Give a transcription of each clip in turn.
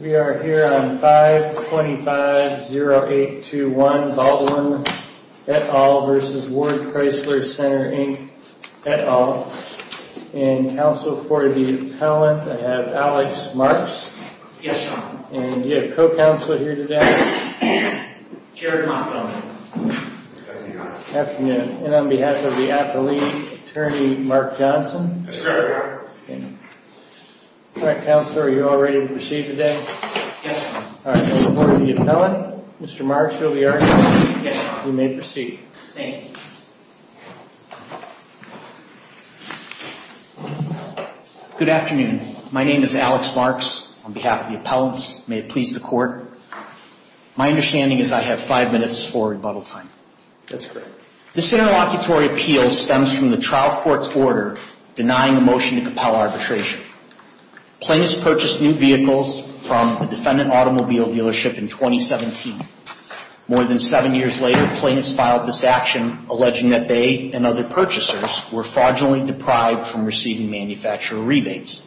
We are here on 525-0821 Baldwin et al. v. Ward Chrysler Center Inc. et al. And counsel for the appellant, I have Alex Marks. Yes, Your Honor. And you have co-counselor here today. Jared Montgomery. Good afternoon. Good afternoon. And on behalf of the appellee, Attorney Mark Johnson. Yes, sir. All right, counsel, are you all ready to proceed today? Yes, sir. All right, we'll report to the appellant. Mr. Marks, you'll be our counsel. Yes, sir. You may proceed. Thank you. Good afternoon. My name is Alex Marks. On behalf of the appellants, may it please the Court, my understanding is I have five minutes for rebuttal time. That's correct. This interlocutory appeal stems from the trial court's order denying a motion to compel arbitration. Plaintiffs purchased new vehicles from a defendant automobile dealership in 2017. More than seven years later, plaintiffs filed this action, alleging that they and other purchasers were fraudulently deprived from receiving manufacturer rebates.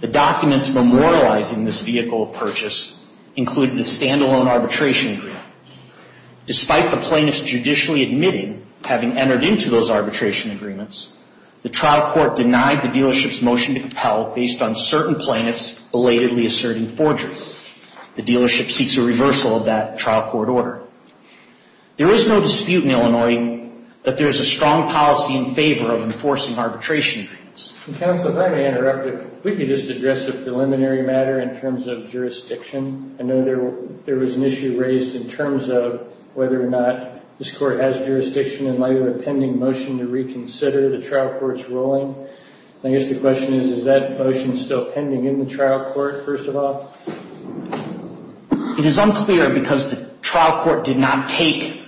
The documents memorializing this vehicle purchase included a stand-alone arbitration agreement. Despite the plaintiffs' judicially admitting having entered into those arbitration agreements, the trial court denied the dealership's motion to compel based on certain plaintiffs' belatedly asserting forgery. The dealership seeks a reversal of that trial court order. There is no dispute in Illinois that there is a strong policy in favor of enforcing arbitration agreements. Counsel, if I may interrupt, if we could just address a preliminary matter in terms of jurisdiction. I know there was an issue raised in terms of whether or not this court has jurisdiction in light of a pending motion to reconsider the trial court's ruling. I guess the question is, is that motion still pending in the trial court, first of all? It is unclear because the trial court did not take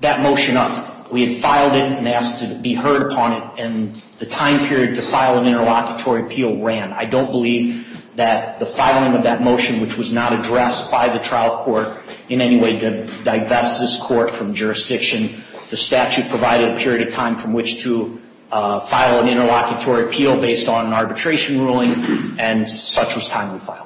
that motion up. We had filed it and asked to be heard upon it, and the time period to file an interlocutory appeal ran. I don't believe that the filing of that motion, which was not addressed by the trial court in any way, did divest this court from jurisdiction. The statute provided a period of time from which to file an interlocutory appeal based on an arbitration ruling, and such was timely filed.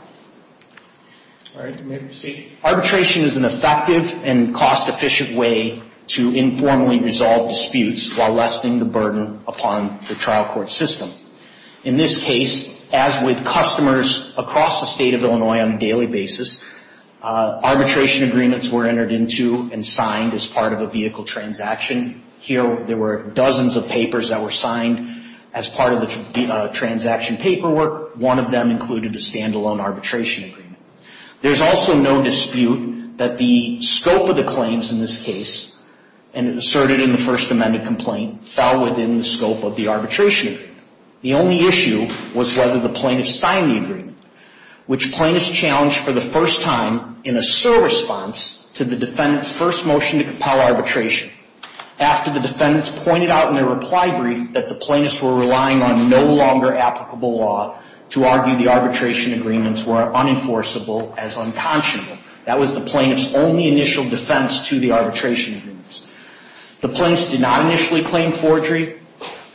All right. You may proceed. Arbitration is an effective and cost-efficient way to informally resolve disputes while lessening the burden upon the trial court system. In this case, as with customers across the state of Illinois on a daily basis, arbitration agreements were entered into and signed as part of a vehicle transaction. Here there were dozens of papers that were signed as part of the transaction paperwork. One of them included a stand-alone arbitration agreement. There's also no dispute that the scope of the claims in this case, and asserted in the first amended complaint, fell within the scope of the arbitration agreement. The only issue was whether the plaintiff signed the agreement, which plaintiffs challenged for the first time in a sur response to the defendant's first motion to compel arbitration. After the defendants pointed out in their reply brief that the plaintiffs were relying on no longer applicable law to argue the arbitration agreements were unenforceable as unconscionable, that was the plaintiff's only initial defense to the arbitration agreements. The plaintiffs did not initially claim forgery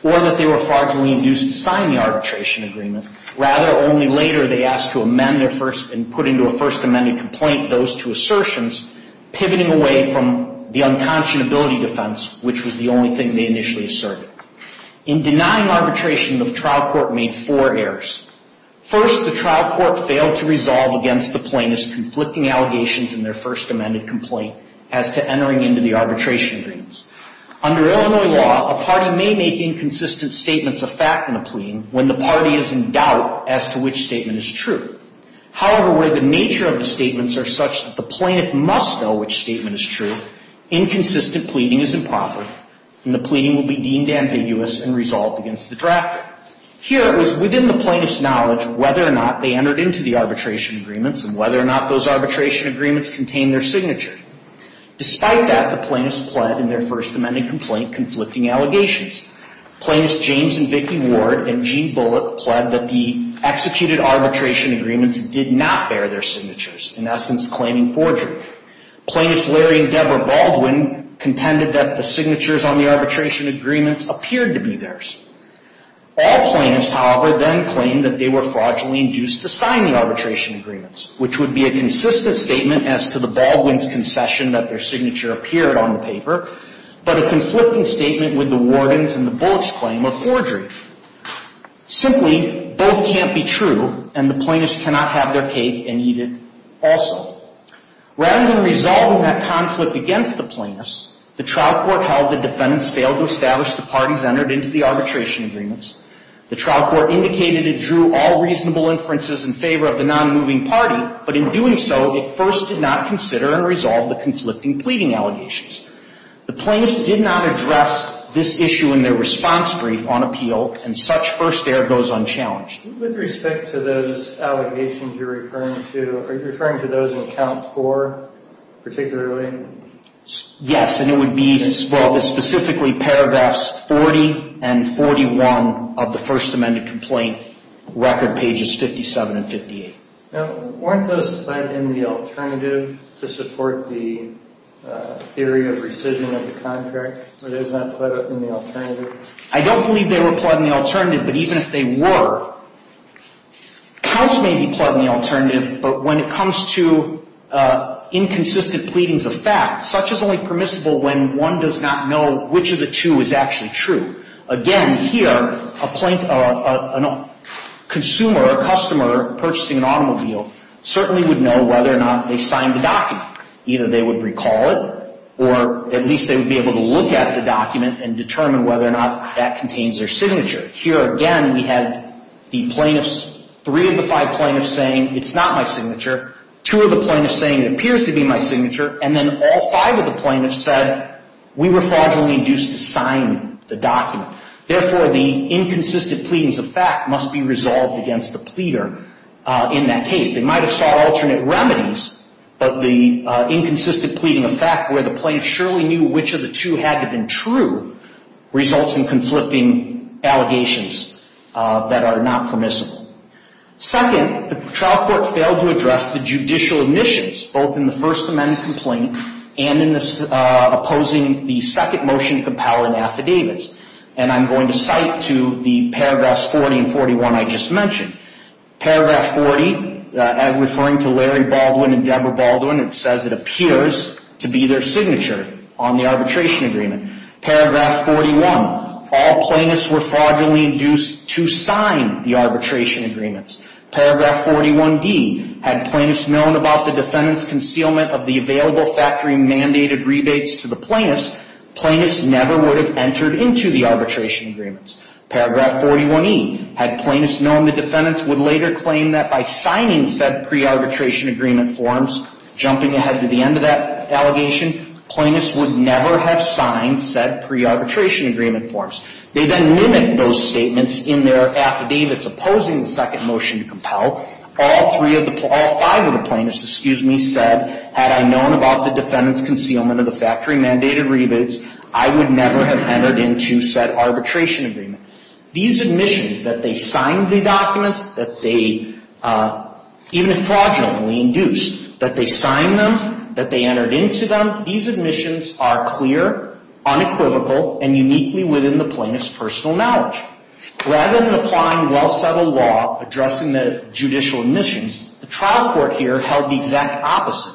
or that they were far too reinduced to sign the arbitration agreement. Rather, only later they asked to amend their first and put into a first amended complaint those two assertions, pivoting away from the unconscionability defense, which was the only thing they initially asserted. In denying arbitration, the trial court made four errors. First, the trial court failed to resolve against the plaintiff's conflicting allegations in their first amended complaint as to entering into the arbitration agreements. Under Illinois law, a party may make inconsistent statements of fact in a pleading when the party is in doubt as to which statement is true. However, where the nature of the statements are such that the plaintiff must know which statement is true, inconsistent pleading is improper, and the pleading will be deemed ambiguous and resolved against the draft. Here, it was within the plaintiff's knowledge whether or not they entered into the arbitration agreements and whether or not those arbitration agreements contained their signature. Despite that, the plaintiffs pled in their first amended complaint conflicting allegations. Plaintiffs James and Vicki Ward and Gene Bullock pled that the executed arbitration agreements did not bear their signatures, in essence claiming forgery. Plaintiffs Larry and Deborah Baldwin contended that the signatures on the arbitration agreements appeared to be theirs. All plaintiffs, however, then claimed that they were fraudulently induced to sign the arbitration agreements, which would be a consistent statement as to the Baldwin's concession that their signature appeared on the paper, but a conflicting statement with the Warden's and the Bullock's claim of forgery. Simply, both can't be true, and the plaintiffs cannot have their cake and eat it also. Rather than resolving that conflict against the plaintiffs, the trial court held the defendants failed to establish the parties entered into the arbitration agreements. The trial court indicated it drew all reasonable inferences in favor of the nonmoving party, but in doing so, it first did not consider and resolve the conflicting pleading allegations. The plaintiffs did not address this issue in their response brief on appeal, and such first air goes unchallenged. With respect to those allegations you're referring to, are you referring to those in count four particularly? Yes, and it would be specifically paragraphs 40 and 41 of the first amended complaint, record pages 57 and 58. Now, weren't those applied in the alternative to support the theory of rescission of the contract? Were those not applied in the alternative? I don't believe they were applied in the alternative, but even if they were, counts may be applied in the alternative, but when it comes to inconsistent pleadings of fact, such is only permissible when one does not know which of the two is actually true. Again, here, a consumer or customer purchasing an automobile certainly would know whether or not they signed the document. Either they would recall it, or at least they would be able to look at the document and determine whether or not that contains their signature. Here again, we had the plaintiffs, three of the five plaintiffs saying it's not my signature, two of the plaintiffs saying it appears to be my signature, and then all five of the plaintiffs said we were fraudulently induced to sign the document. Therefore, the inconsistent pleadings of fact must be resolved against the pleader in that case. They might have sought alternate remedies, but the inconsistent pleading of fact, where the plaintiffs surely knew which of the two had to have been true, results in conflicting allegations that are not permissible. Second, the trial court failed to address the judicial admissions, both in the First Amendment complaint and in opposing the second motion compelling affidavits. And I'm going to cite to the paragraphs 40 and 41 I just mentioned. Paragraph 40, referring to Larry Baldwin and Deborah Baldwin, it says it appears to be their signature on the arbitration agreement. Paragraph 41, all plaintiffs were fraudulently induced to sign the arbitration agreements. Paragraph 41D, had plaintiffs known about the defendant's concealment of the available factory-mandated rebates to the plaintiffs, plaintiffs never would have entered into the arbitration agreements. Paragraph 41E, had plaintiffs known the defendants would later claim that by signing said pre-arbitration agreement forms, jumping ahead to the end of that allegation, plaintiffs would never have signed said pre-arbitration agreement forms. They then mimic those statements in their affidavits opposing the second motion to compel. All five of the plaintiffs, excuse me, said, had I known about the defendant's concealment of the factory-mandated rebates, I would never have entered into said arbitration agreement. These admissions, that they signed the documents, that they, even if fraudulently induced, that they signed them, that they entered into them, these admissions are clear, unequivocal, and uniquely within the plaintiff's personal knowledge. Rather than applying well-settled law addressing the judicial admissions, the trial court here held the exact opposite.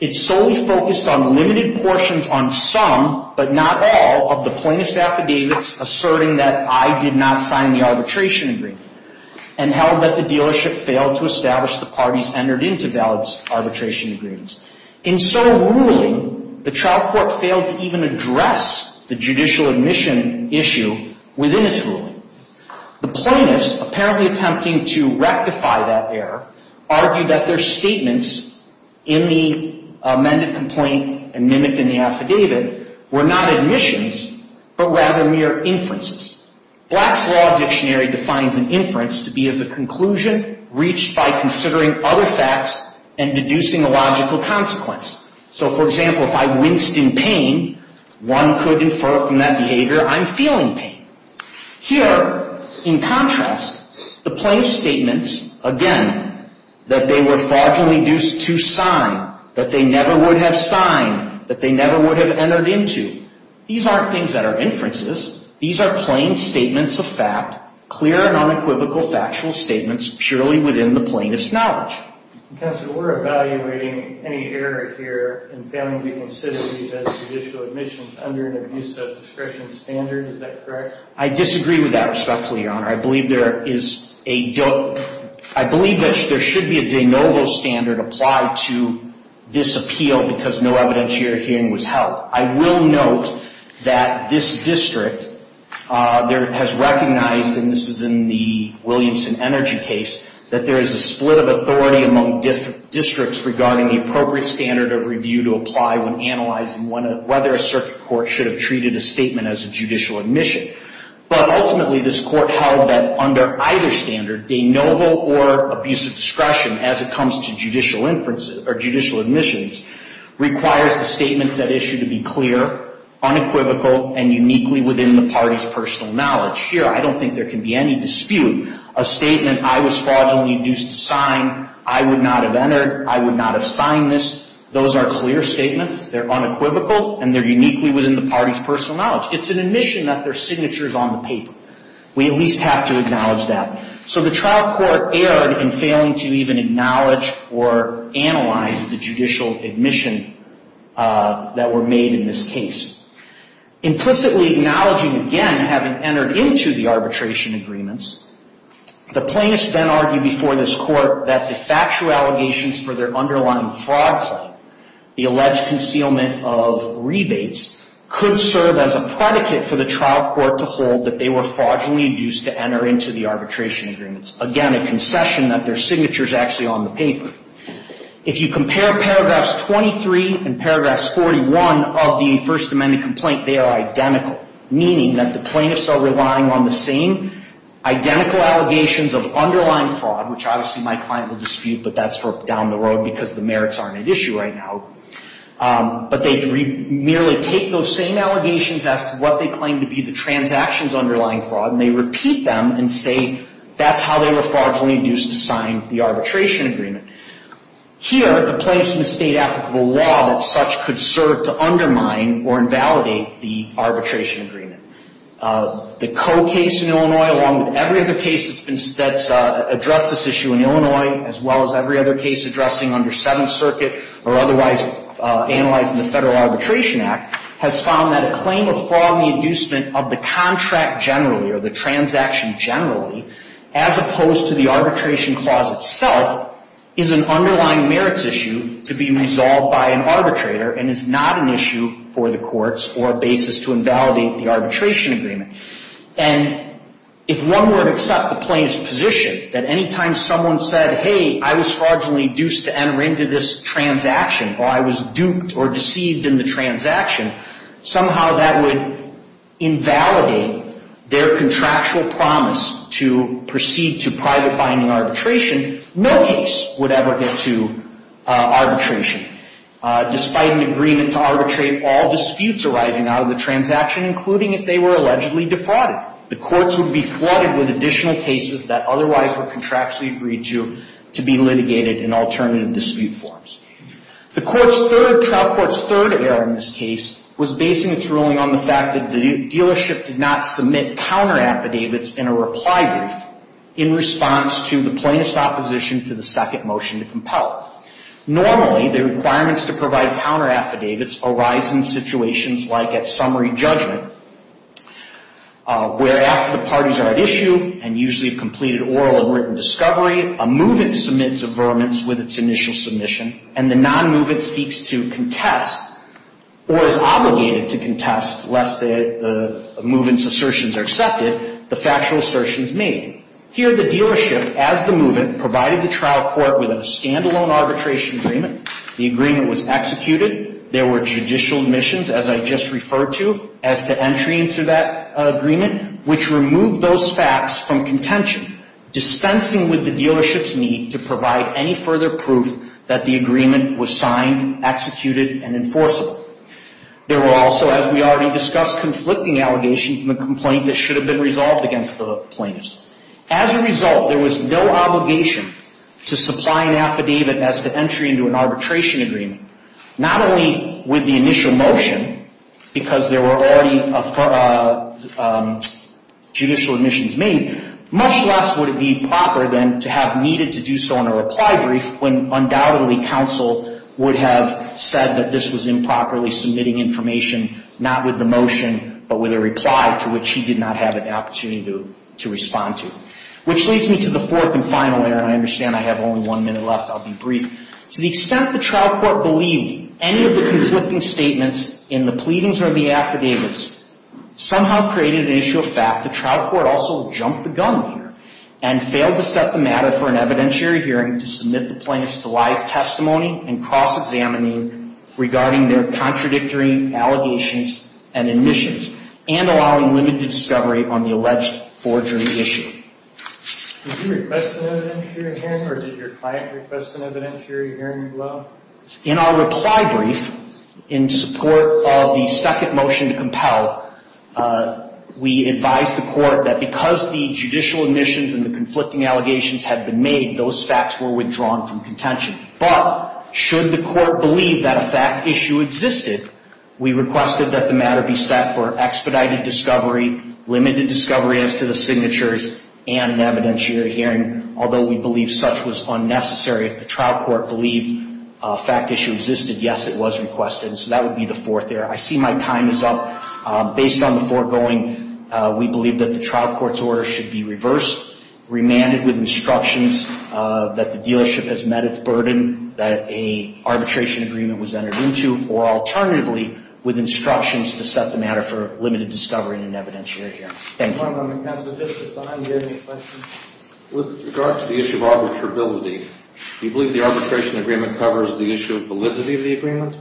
It solely focused on limited portions on some, but not all, of the plaintiff's affidavits asserting that I did not sign the arbitration agreement, and held that the dealership failed to establish the parties entered into valid arbitration agreements. In so ruling, the trial court failed to even address the judicial admission issue within its ruling. The plaintiffs, apparently attempting to rectify that error, argued that their statements in the amended complaint and mimicked in the affidavit were not admissions, but rather mere inferences. Black's Law Dictionary defines an inference to be as a conclusion reached by considering other facts and deducing a logical consequence. So, for example, if I winced in pain, one could infer from that behavior I'm feeling pain. Here, in contrast, the plaintiff's statements, again, that they were fraudulently due to sign, that they never would have signed, that they never would have entered into, these aren't things that are inferences. These are plain statements of fact, clear and unequivocal factual statements, purely within the plaintiff's knowledge. Counselor, we're evaluating any error here in failing to consider these as judicial admissions under an abuse of discretion standard. Is that correct? I disagree with that, respectfully, Your Honor. I believe there should be a de novo standard applied to this appeal because no evidentiary hearing was held. I will note that this district has recognized, and this is in the Williamson Energy case, that there is a split of authority among districts regarding the appropriate standard of review to apply when analyzing whether a circuit court should have treated a statement as a judicial admission. But ultimately, this court held that under either standard, de novo or abuse of discretion as it comes to judicial admissions requires the statements that issue to be clear, unequivocal, and uniquely within the party's personal knowledge. Here, I don't think there can be any dispute. A statement, I was fraudulently due to sign, I would not have entered, I would not have signed this, those are clear statements, they're unequivocal, and they're uniquely within the party's personal knowledge. It's an admission that their signature is on the paper. We at least have to acknowledge that. So the trial court erred in failing to even acknowledge or analyze the judicial admission that were made in this case. Implicitly acknowledging, again, having entered into the arbitration agreements, the plaintiffs then argue before this court that the factual allegations for their underlying fraud claim, the alleged concealment of rebates, could serve as a predicate for the trial court to hold that they were fraudulently induced to enter into the arbitration agreements. Again, a concession that their signature is actually on the paper. If you compare paragraphs 23 and paragraphs 41 of the First Amendment complaint, they are identical, meaning that the plaintiffs are relying on the same identical allegations of underlying fraud, which obviously my client will dispute, but that's for down the road because the merits aren't at issue right now, but they merely take those same allegations as to what they claim to be the transactions underlying fraud and they repeat them and say that's how they were fraudulently induced to sign the arbitration agreement. Here, the plaintiffs misstate applicable law that such could serve to undermine or invalidate the arbitration agreement. The Coe case in Illinois, along with every other case that's addressed this issue in Illinois, as well as every other case addressing under Seventh Circuit or otherwise analyzed in the Federal Arbitration Act, has found that a claim of fraud in the inducement of the contract generally or the transaction generally, as opposed to the arbitration clause itself, is an underlying merits issue to be resolved by an arbitrator and is not an issue for the courts or a basis to invalidate the arbitration agreement. And if one were to accept the plaintiff's position that any time someone said, hey, I was fraudulently induced to enter into this transaction or I was duped or deceived in the transaction, somehow that would invalidate their contractual promise to proceed to private binding arbitration. No case would ever get to arbitration despite an agreement to arbitrate all disputes arising out of the transaction, including if they were allegedly defrauded. The courts would be flooded with additional cases that otherwise were contractually agreed to to be litigated in alternative dispute forms. The court's third, trial court's third error in this case, was based in its ruling on the fact that the dealership did not submit counteraffidavits in a reply brief in response to the plaintiff's opposition to the second motion to compel it. Normally, the requirements to provide counteraffidavits arise in situations like at summary judgment, where after the parties are at issue and usually have completed oral and written discovery, a move-in submits a vermin with its initial submission and the non-move-in seeks to contest or is obligated to contest, lest the move-in's assertions are accepted, the factual assertions made. Here, the dealership, as the move-in, provided the trial court with a stand-alone arbitration agreement. The agreement was executed. There were judicial admissions, as I just referred to, as to entry into that agreement, which removed those facts from contention, dispensing with the dealership's need to provide any further proof that the agreement was signed, executed, and enforceable. There were also, as we already discussed, conflicting allegations in the complaint that should have been resolved against the plaintiffs. As a result, there was no obligation to supply an affidavit as to entry into an arbitration agreement, not only with the initial motion, because there were already judicial admissions made, much less would it be proper, then, to have needed to do so in a reply brief when undoubtedly counsel would have said that this was improperly submitting information, not with the motion, but with a reply to which he did not have an opportunity to respond to. Which leads me to the fourth and final error, and I understand I have only one minute left. I'll be brief. To the extent the trial court believed any of the conflicting statements in the pleadings or the affidavits somehow created an issue of fact, the trial court also jumped the gun here and failed to set the matter for an evidentiary hearing to submit the plaintiffs to live testimony and cross-examining regarding their contradictory allegations and admissions, and allowing limited discovery on the alleged forgery issue. Did you request an evidentiary hearing, or did your client request an evidentiary hearing as well? In our reply brief, in support of the second motion to compel, we advised the court that because the judicial admissions and the conflicting allegations had been made, those facts were withdrawn from contention. But should the court believe that a fact issue existed, we requested that the matter be set for expedited discovery, limited discovery as to the signatures, and an evidentiary hearing, although we believe such was unnecessary if the trial court believed a fact issue existed, yes, it was requested. So that would be the fourth area. I see my time is up. Based on the foregoing, we believe that the trial court's order should be reversed, remanded with instructions that the dealership has met its burden that an arbitration agreement was entered into, or alternatively, with instructions to set the matter for limited discovery and an evidentiary hearing. Thank you. One moment, counsel. With regard to the issue of arbitrability, do you believe the arbitration agreement covers the issue of validity of the agreement?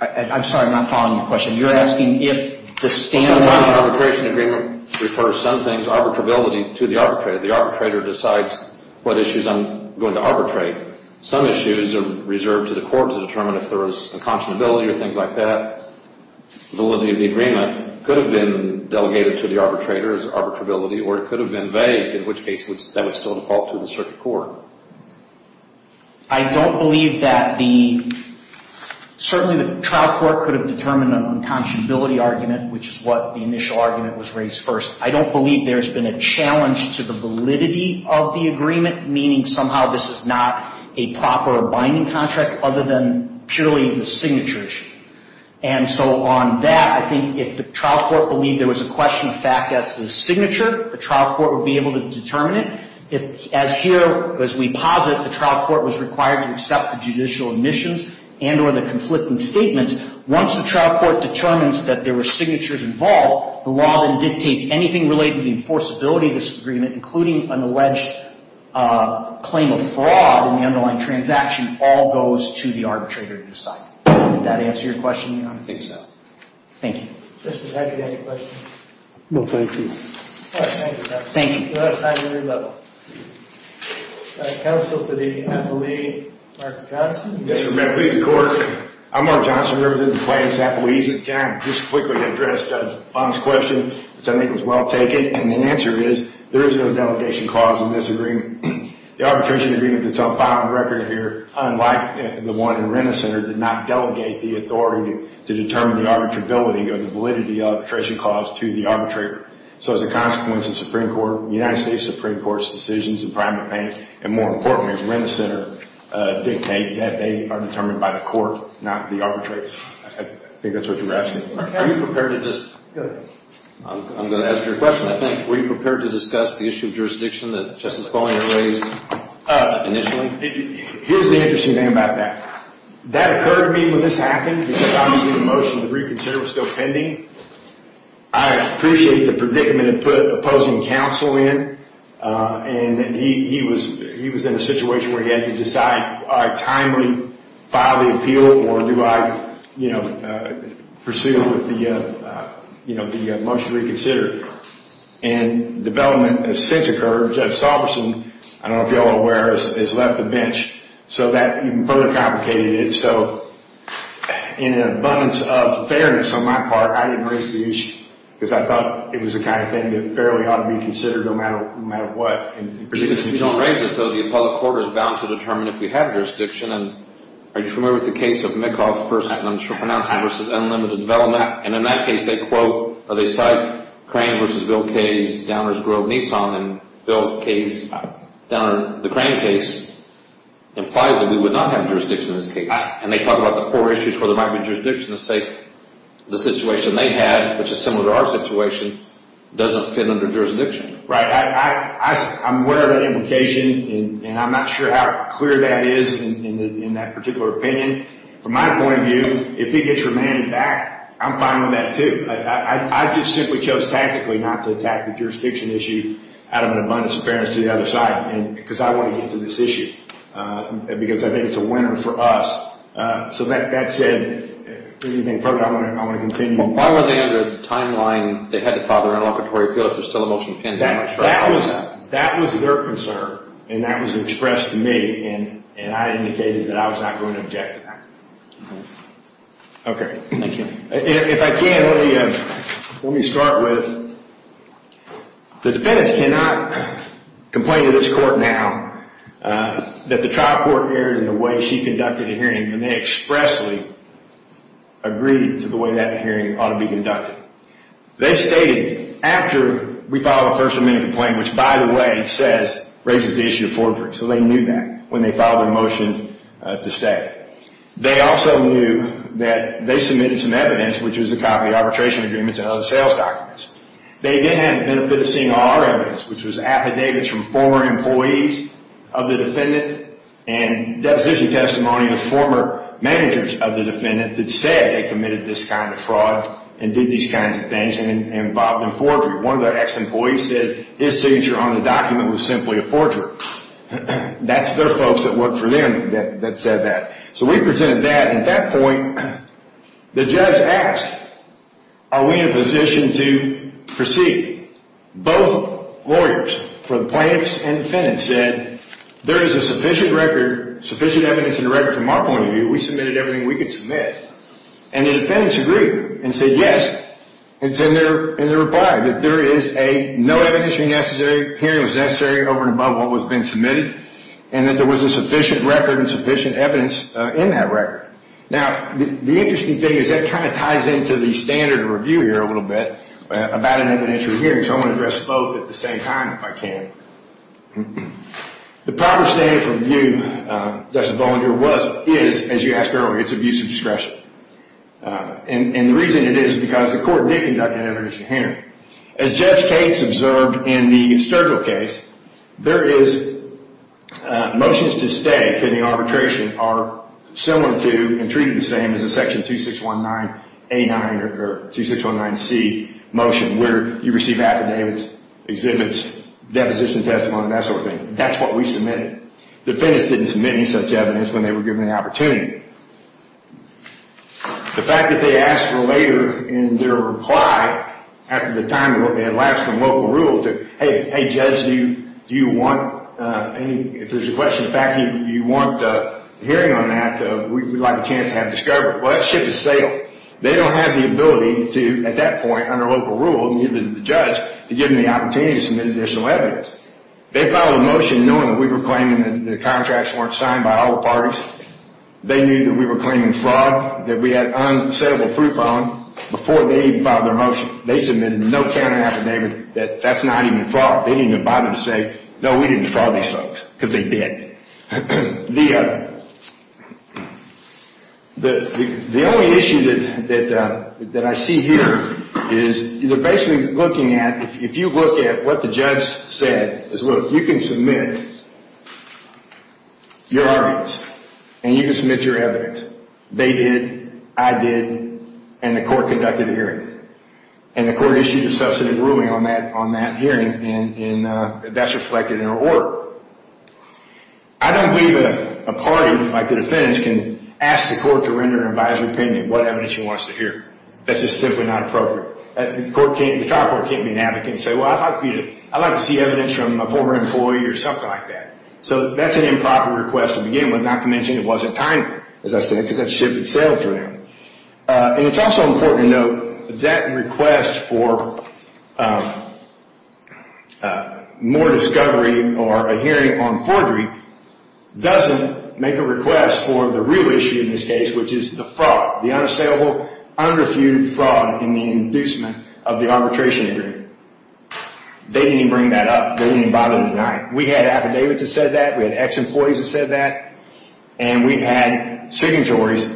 I'm sorry, I'm not following your question. You're asking if the standard arbitration agreement refers some things, arbitrability, to the arbitrator. The arbitrator decides what issues I'm going to arbitrate. Some issues are reserved to the court to determine if there is unconscionability or things like that. Validity of the agreement could have been delegated to the arbitrator as arbitrability, or it could have been vague, in which case that would still default to the circuit court. I don't believe that the... Certainly the trial court could have determined an unconscionability argument, which is what the initial argument was raised first. I don't believe there's been a challenge to the validity of the agreement, meaning somehow this is not a proper binding contract other than purely the signatures. And so on that, I think if the trial court believed there was a question of fact as to the signature, the trial court would be able to determine it. As here, as we posit, the trial court was required to accept the judicial admissions and or the conflicting statements. Once the trial court determines that there were signatures involved, the law then dictates anything related to the enforceability of this agreement, including an alleged claim of fraud in the underlying transaction, all goes to the arbitrator to decide if that answers your question or not. I think so. Thank you. Justice, do you have any questions? No, thank you. All right, thank you, Justice. Thank you. We'll have time for your level. Counsel for the appellee, Mark Johnson. Yes, Your Honor. Please record. I'm Mark Johnson. I represent the plaintiffs' appellees. Can I just quickly address Judge Bohn's question, which I think was well taken? And the answer is there is no delegation clause in this agreement. The arbitration agreement that's on file on record here, unlike the one in Renner Center, did not delegate the authority to determine the arbitrability or the validity of the arbitration clause to the arbitrator. So as a consequence, the Supreme Court, the United States Supreme Court's decisions in primary plaintiff, and more importantly, as Renner Center dictate, that they are determined by the court, not the arbitrator. I think that's what you're asking. Are you prepared to just... Go ahead. I'm going to ask you a question, I think. Were you prepared to discuss the issue of jurisdiction that Justice Bohn had raised initially? Here's the interesting thing about that. That occurred to me when this happened, because obviously the motion to reconsider was still pending. I appreciated the predicament it put opposing counsel in, and he was in a situation where he had to decide, do I timely file the appeal, or do I, you know, pursue with the motion to reconsider? And development has since occurred. Judge Sauberson, I don't know if you're all aware, has left the bench. So that further complicated it. So in an abundance of fairness on my part, I didn't raise the issue, because I thought it was the kind of thing that fairly ought to be considered, no matter what. If you don't raise it, though, the appellate court is bound to determine if we have jurisdiction. And are you familiar with the case of Minkoff vs. Unlimited Development? And in that case, they cite Crane vs. Bill Kaye's Downers Grove Nissan, and Bill Kaye's Downer, the Crane case, implies that we would not have jurisdiction in this case. And they talk about the four issues where there might be jurisdiction to say the situation they had, which is similar to our situation, doesn't fit under jurisdiction. Right. I'm aware of that implication, and I'm not sure how clear that is in that particular opinion. From my point of view, if he gets remanded back, I'm fine with that, too. I just simply chose tactically not to attack the jurisdiction issue out of an abundance of fairness to the other side. Because I want to get to this issue. Because I think it's a winner for us. So that said, if there's anything further, I want to continue. Why were they under the timeline they had to file their interlocutory appeal if there's still a motion pending? That was their concern, and that was expressed to me, and I indicated that I was not going to object to that. Okay. Thank you. If I can, let me start with the defendants cannot complain to this court now that the trial court erred in the way she conducted the hearing, and they expressly agreed to the way that hearing ought to be conducted. They stated, after we filed a First Amendment complaint, which, by the way, raises the issue of forgery. So they knew that when they filed their motion to stay. They also knew that they submitted some evidence, which was a copy of arbitration agreements and other sales documents. They, again, had the benefit of seeing all our evidence, which was affidavits from former employees of the defendant and deposition testimony of former managers of the defendant that said they committed this kind of fraud and did these kinds of things and involved in forgery. One of the ex-employees says his signature on the document was simply a forgery. That's their folks that worked for them that said that. So we presented that, and at that point, the judge asked, are we in a position to proceed? Both lawyers, for the plaintiffs and defendants said, there is a sufficient record, sufficient evidence in the record from our point of view. We submitted everything we could submit. And the defendants agreed and said yes. And they replied that there is a no evidence necessary, hearing was necessary over and above what was being submitted, and that there was a sufficient record and sufficient evidence in that record. Now, the interesting thing is that kind of ties into the standard of review here a little bit about an evidentiary hearing, so I'm going to address both at the same time if I can. The proper standard of review, Justice Bollinger, is, as you asked earlier, it's abuse of discretion. And the reason it is is because the court did conduct an evidentiary hearing. As Judge Cates observed in the Sturgill case, there is motions to stay in the arbitration are similar to and treated the same as a section 2619A9 or 2619C motion where you receive affidavits, deposition testimony, that sort of thing. That's what we submitted. The defendants didn't submit any such evidence when they were given the opportunity. The fact that they asked for later in their reply after the time rule, they had lapsed from local rule to, hey, Judge, do you want any, if there's a question, the fact that you want a hearing on that, we'd like a chance to have a discovery. Well, that ship has sailed. They don't have the ability to, at that point, under local rule, neither did the judge, to give them the opportunity to submit additional evidence. They filed a motion knowing that we were claiming that the contracts weren't signed by all the parties. They knew that we were claiming fraud, that we had unsalable proof on before they even filed their motion. They submitted no counter affidavit that that's not even fraud. They didn't even bother to say, no, we didn't defraud these folks because they did. The only issue that I see here is they're basically looking at, if you look at what the judge said, is look, you can submit your arguments, and you can submit your evidence. They did, I did, and the court conducted a hearing. And the court issued a substantive ruling on that hearing, and that's reflected in our order. And the judge I don't believe that a party like the defense can ask the court to render an advisory opinion on what evidence you want us to hear. That's just simply not appropriate. The trial court can't be an advocate and say, well, I'd like to see evidence from a former employee or something like that. So that's an improper request to begin with, not to mention it wasn't timely, as I said, because that ship had sailed for them. And it's also important to note that request for more discovery or a hearing on forgery doesn't make a request for the real issue in this case, which is the fraud, the unassailable, unrefuted fraud in the inducement of the arbitration agreement. They didn't even bring that up. They didn't even bother to deny it. We had affidavits that said that. We had ex-employees that said that. And we had signatories.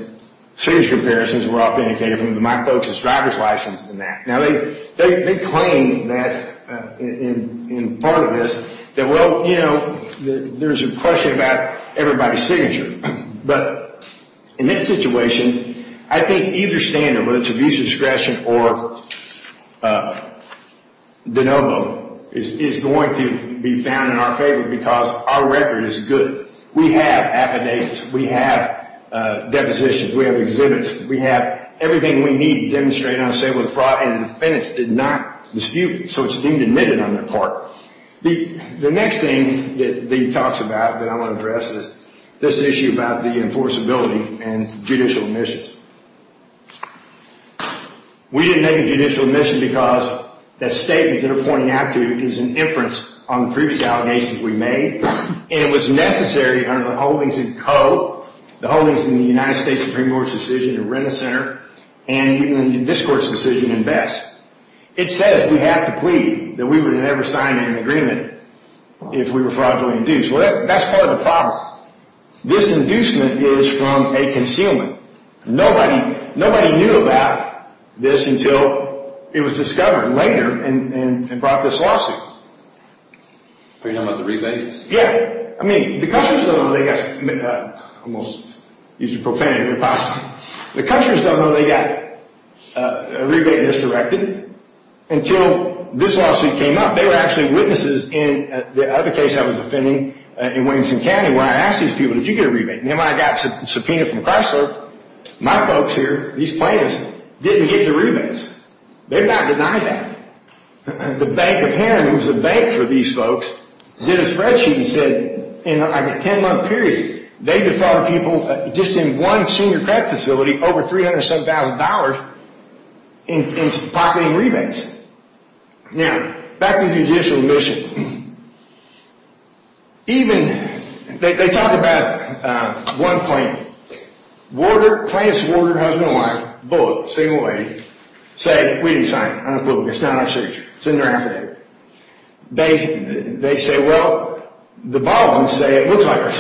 Signature comparisons were often indicated from my folks as driver's license than that. Now they claim that in part of this that, well, you know, there's a question about everybody's signature. But in this situation, I think either standard, whether it's abuse discretion or de novo, is going to be found in our favor because our record is good. We have affidavits. We have depositions. We have exhibits. We have everything we need to demonstrate unassailable fraud. And the defendants did not dispute it. So it's deemed admitted on their part. The next thing that I want to address is this issue about the enforceability and judicial admissions. We didn't make a judicial admission because that statement they're pointing out to is an inference on the previous allegations we made. And it was necessary under the holdings in code, the holdings in the United States Supreme Court's decision in Rent-A-Center and in this court's decision in BESS. It says we have to plead that we would never sign an agreement if we were fraudulently induced. Well, that's part of the problem. This inducement is from a concealment. Nobody knew about this until it was discovered later and brought this lawsuit. But you're talking about the rebates? Yeah. I mean, the countries don't know they got almost used a prophetic apostrophe. The countries don't know they got a rebate until this lawsuit came up. They were actually witnesses in the other case I was defending in Williamson County where I asked these people, did you get a I got a subpoena from Chrysler. My folks here, these plaintiffs, didn't get the rebates. They've not denied that. The Bank of Henry, who's the bank for these folks, did a spreadsheet and said, in like a 10-month period, they defrauded people just in one senior credit facility over $300,000 in pocketing rebates. Now, back to the judicial mission. Even, they talk about one plaintiff. Plaintiff's lawyer, husband, and wife, both, single lady, say, we didn't sign it, it's not our signature. It's in their affidavit. They say, the Baldwin's say it looks like our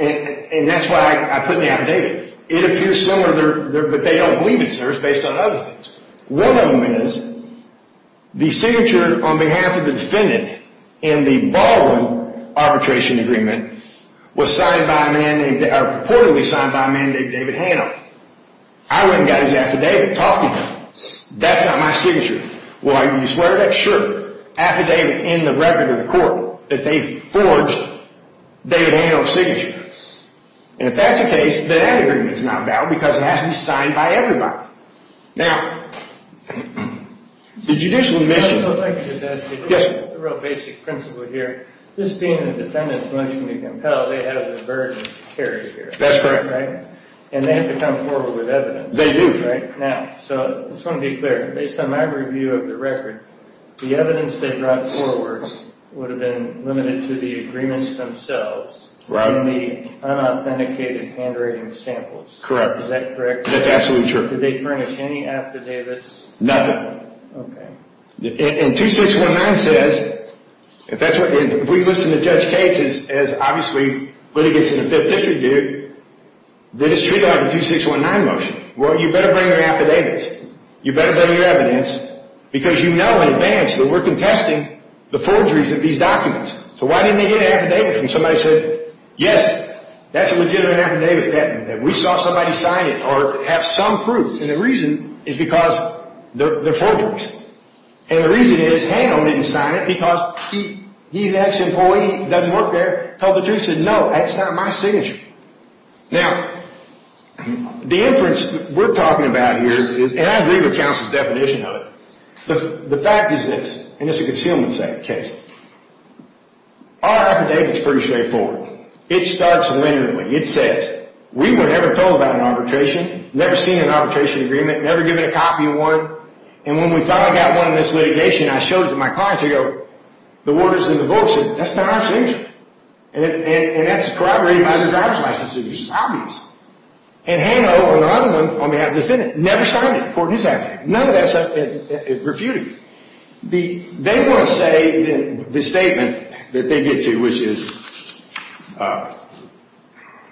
And that's why I put in the affidavit. It appears similar, but they don't believe it's theirs based on other things. One of them is, the signature on behalf of the in the arbitration agreement was signed by a man named David Hano. I went and got his affidavit, talked to him. That's not my signature. Well, you swear to that? Affidavit in the record of the court, that they forged David Hano's signature. And if that's the case, then that agreement is not valid because it has to be signed by everybody. Now, the judicial mission Yes. The real basic principle here, this being the defendant's motion to compel, they have a burden to carry here. That's correct. And they have to come forward with evidence. They do. So I just want to be clear. Based on my review of the record, the evidence they brought forward would have been limited to the agreements themselves. Is that correct? That's absolutely true. Did they furnish any affidavits? Nothing. And 2619 says, if we listen to Judge Cates as obviously litigants in the Fifth District here, then it's treated like a 2619 motion. Well, you better bring your affidavits. You better bring your evidence because you know in advance that we're contesting the forgeries of these documents. So why didn't they get an from somebody that said, yes, that's a legitimate affidavit that we saw somebody sign it or have some proof. And the reason is because they're forgers. And the reason is Hano didn't sign it because he's an ex- doesn't work there, told the jury, said, no, that's not my signature. Now, the inference we're talking about here and I agree with counsel's definition of the fact is this, and it's a concealment case, our affidavit's pretty straightforward. It starts literally. It says, we were never told about an arbitration, never seen an arbitration agreement, never given a copy of one, and when we finally got one in this litigation and I showed it to my clients, they go, the word is in the said, that's not our signature. And that's corroborated by the driver's license which is obvious. And Hano, on the other one, on behalf of the never signed it. None of that stuff is refuted. They want to say the statement that they get to, which is, I'm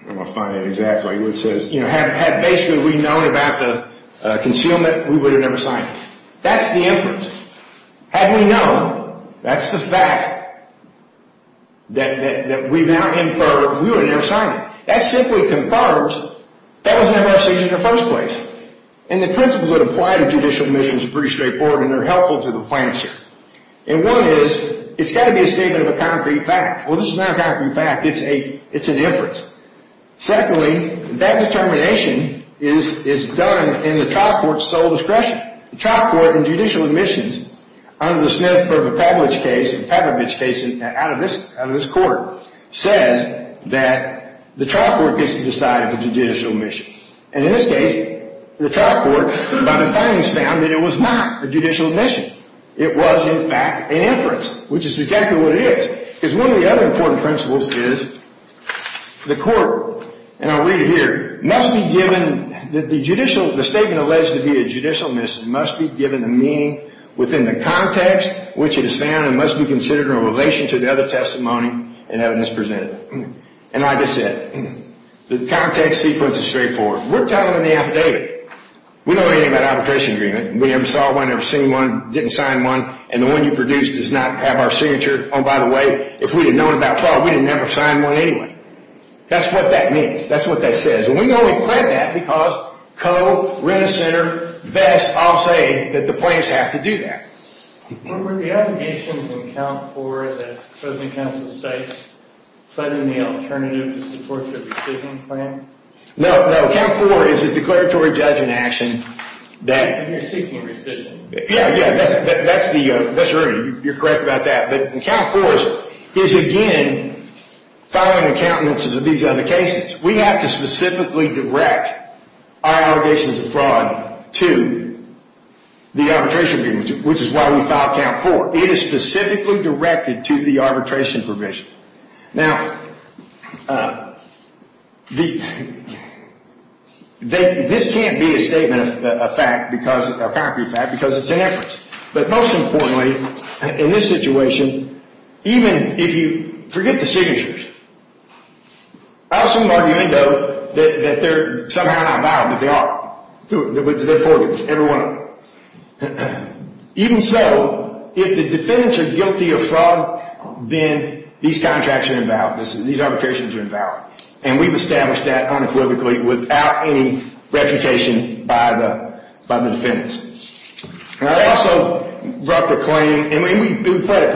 going to find it exactly, which says, had basically we known about the concealment, we would have never signed it. That's the inference. Had we known, that's the fact, that we now infer, we would have never signed it. That simply confirms that Hano doesn't have our signature in the first place. And the principles that apply to judicial admissions are pretty straightforward. And one is, it's got to be a statement of a concrete fact. Well, this is not a concrete fact, it's an inference. Secondly, that determination is done in the trial court's sole discretion. The trial court in judicial admissions under the case says that the trial court gets to decide the judicial admission. And in this case, the trial court, by the findings, found that it was not a judicial admission. It was, an inference, which is exactly what it is. Because one of the other important principles is, court, and I'll read it here, must be the judicial, the statement alleged to be a judicial admission, must be given a meaning within the context which it is found and must be considered in relation to the other testimony and evidence presented. And like I said, the context sequence is straightforward. We're telling them the affidavit. We don't know anything about the arbitration agreement. We never know what other testimony is. anything about the other testimony. we don't know anything arbitration agreement. We never know what So we don't know anything about the arbitration agreement. So don't So we know anything about the arbitration agreement. And don't about the court's attention to United States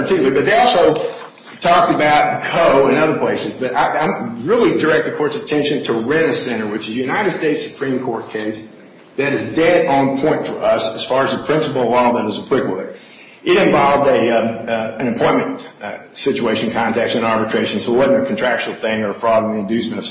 Supreme Court case that is dead on point for us. It involved an employment situation context and arbitration so it a contractual thing or fraud so Supreme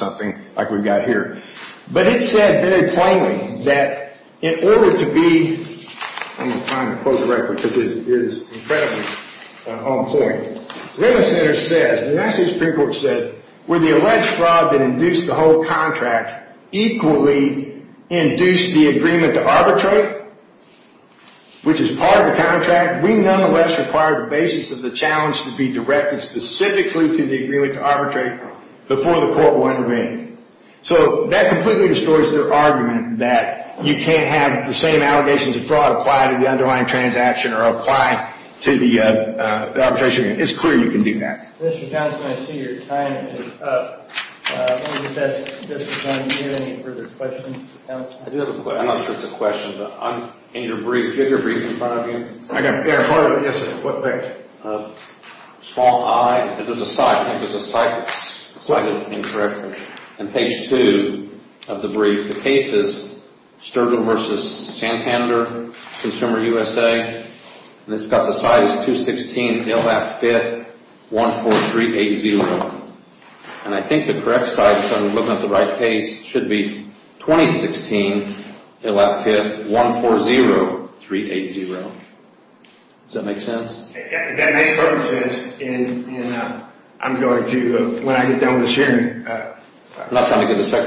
Court said the alleged fraud that induced the whole contract equally induced the agreement to arbitrate which is part of the We nonetheless required the Supreme Court to the allegations of fraud applied to the underlying transaction or apply to the arbitration agreement. It's clear you can do that. The case is Sturgill v. Santander Consumer USA and it's got the size 216 LAP 5th 14380 and I think the correct size should be 2016 LAP 5th 380. I think the correct size and I the correct size be 2016 2016 380. I think the correct LAP 5th 380. I think be 2016 380. I think the correct size should be 2016 size should be LAP 5th 380. I think the correct size should be 2016 LAP 5th I think the correct size should 2016 380. I think the correct be 2016 I the correct size should be 2016 LAP 5th think the correct should 2016 LAP 5th 380. I think the size should be 2016 LAP 5th think the correct should be I think the correct size should LAP 380. I think the correct size should be 2016 I think the correct size should be 2016 LAP 5th I the correct size should be 2016 LAP 5th I think the correct size size be 2016 LAP 5th I think the correct 2016 LAP 5th LAP I think I think the correct size should be 2016 LAP I think the correct size should LAP 5th I think the should be 2016 I think the correct size LAP LAP 5th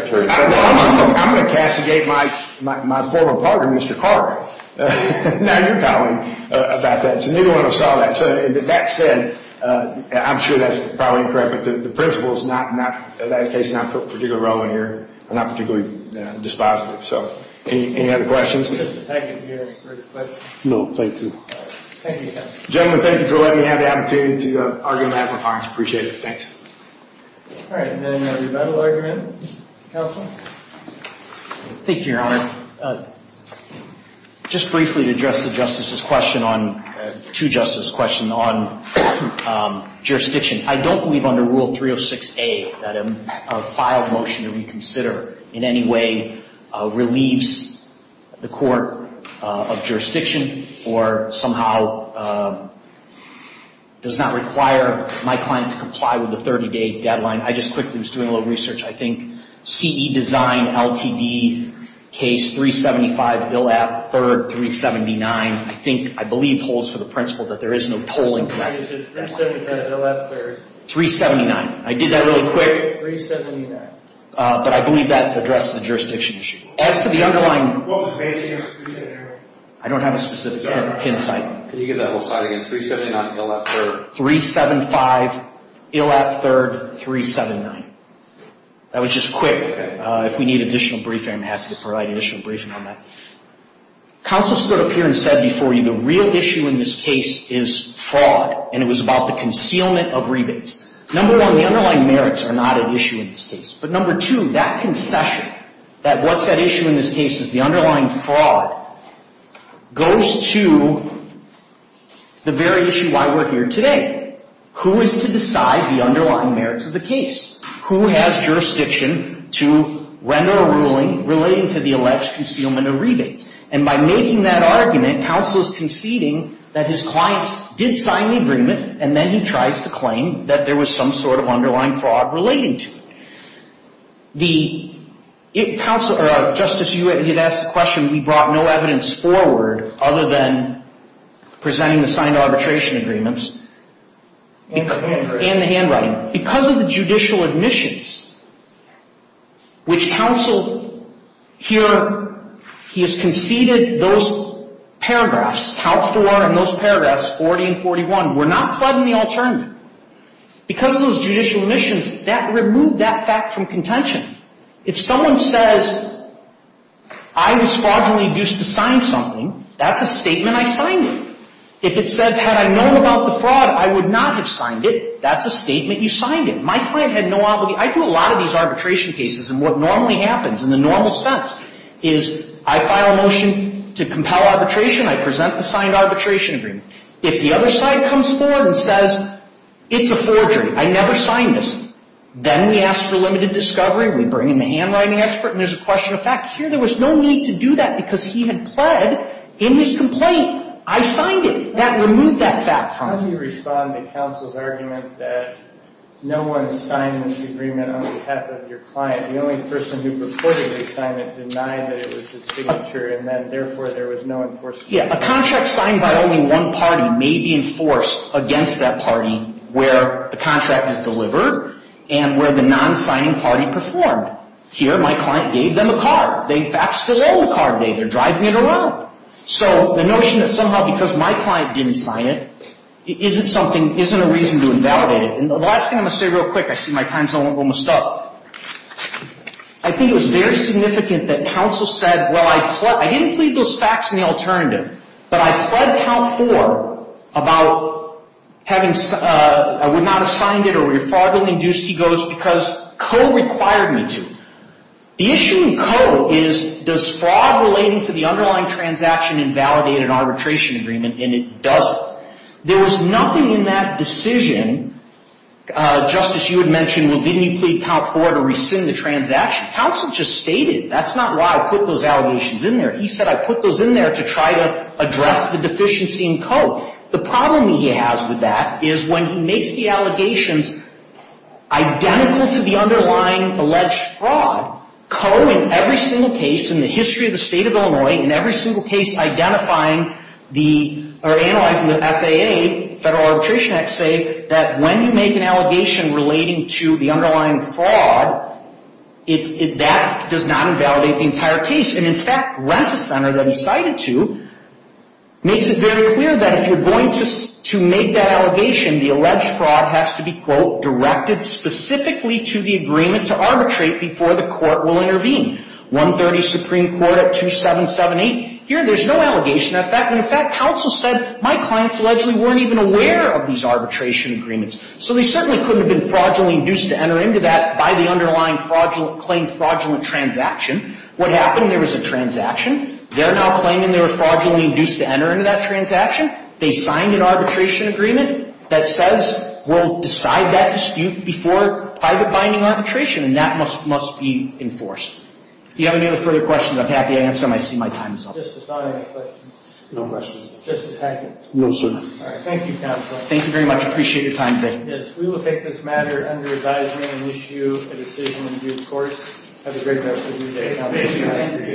I 5th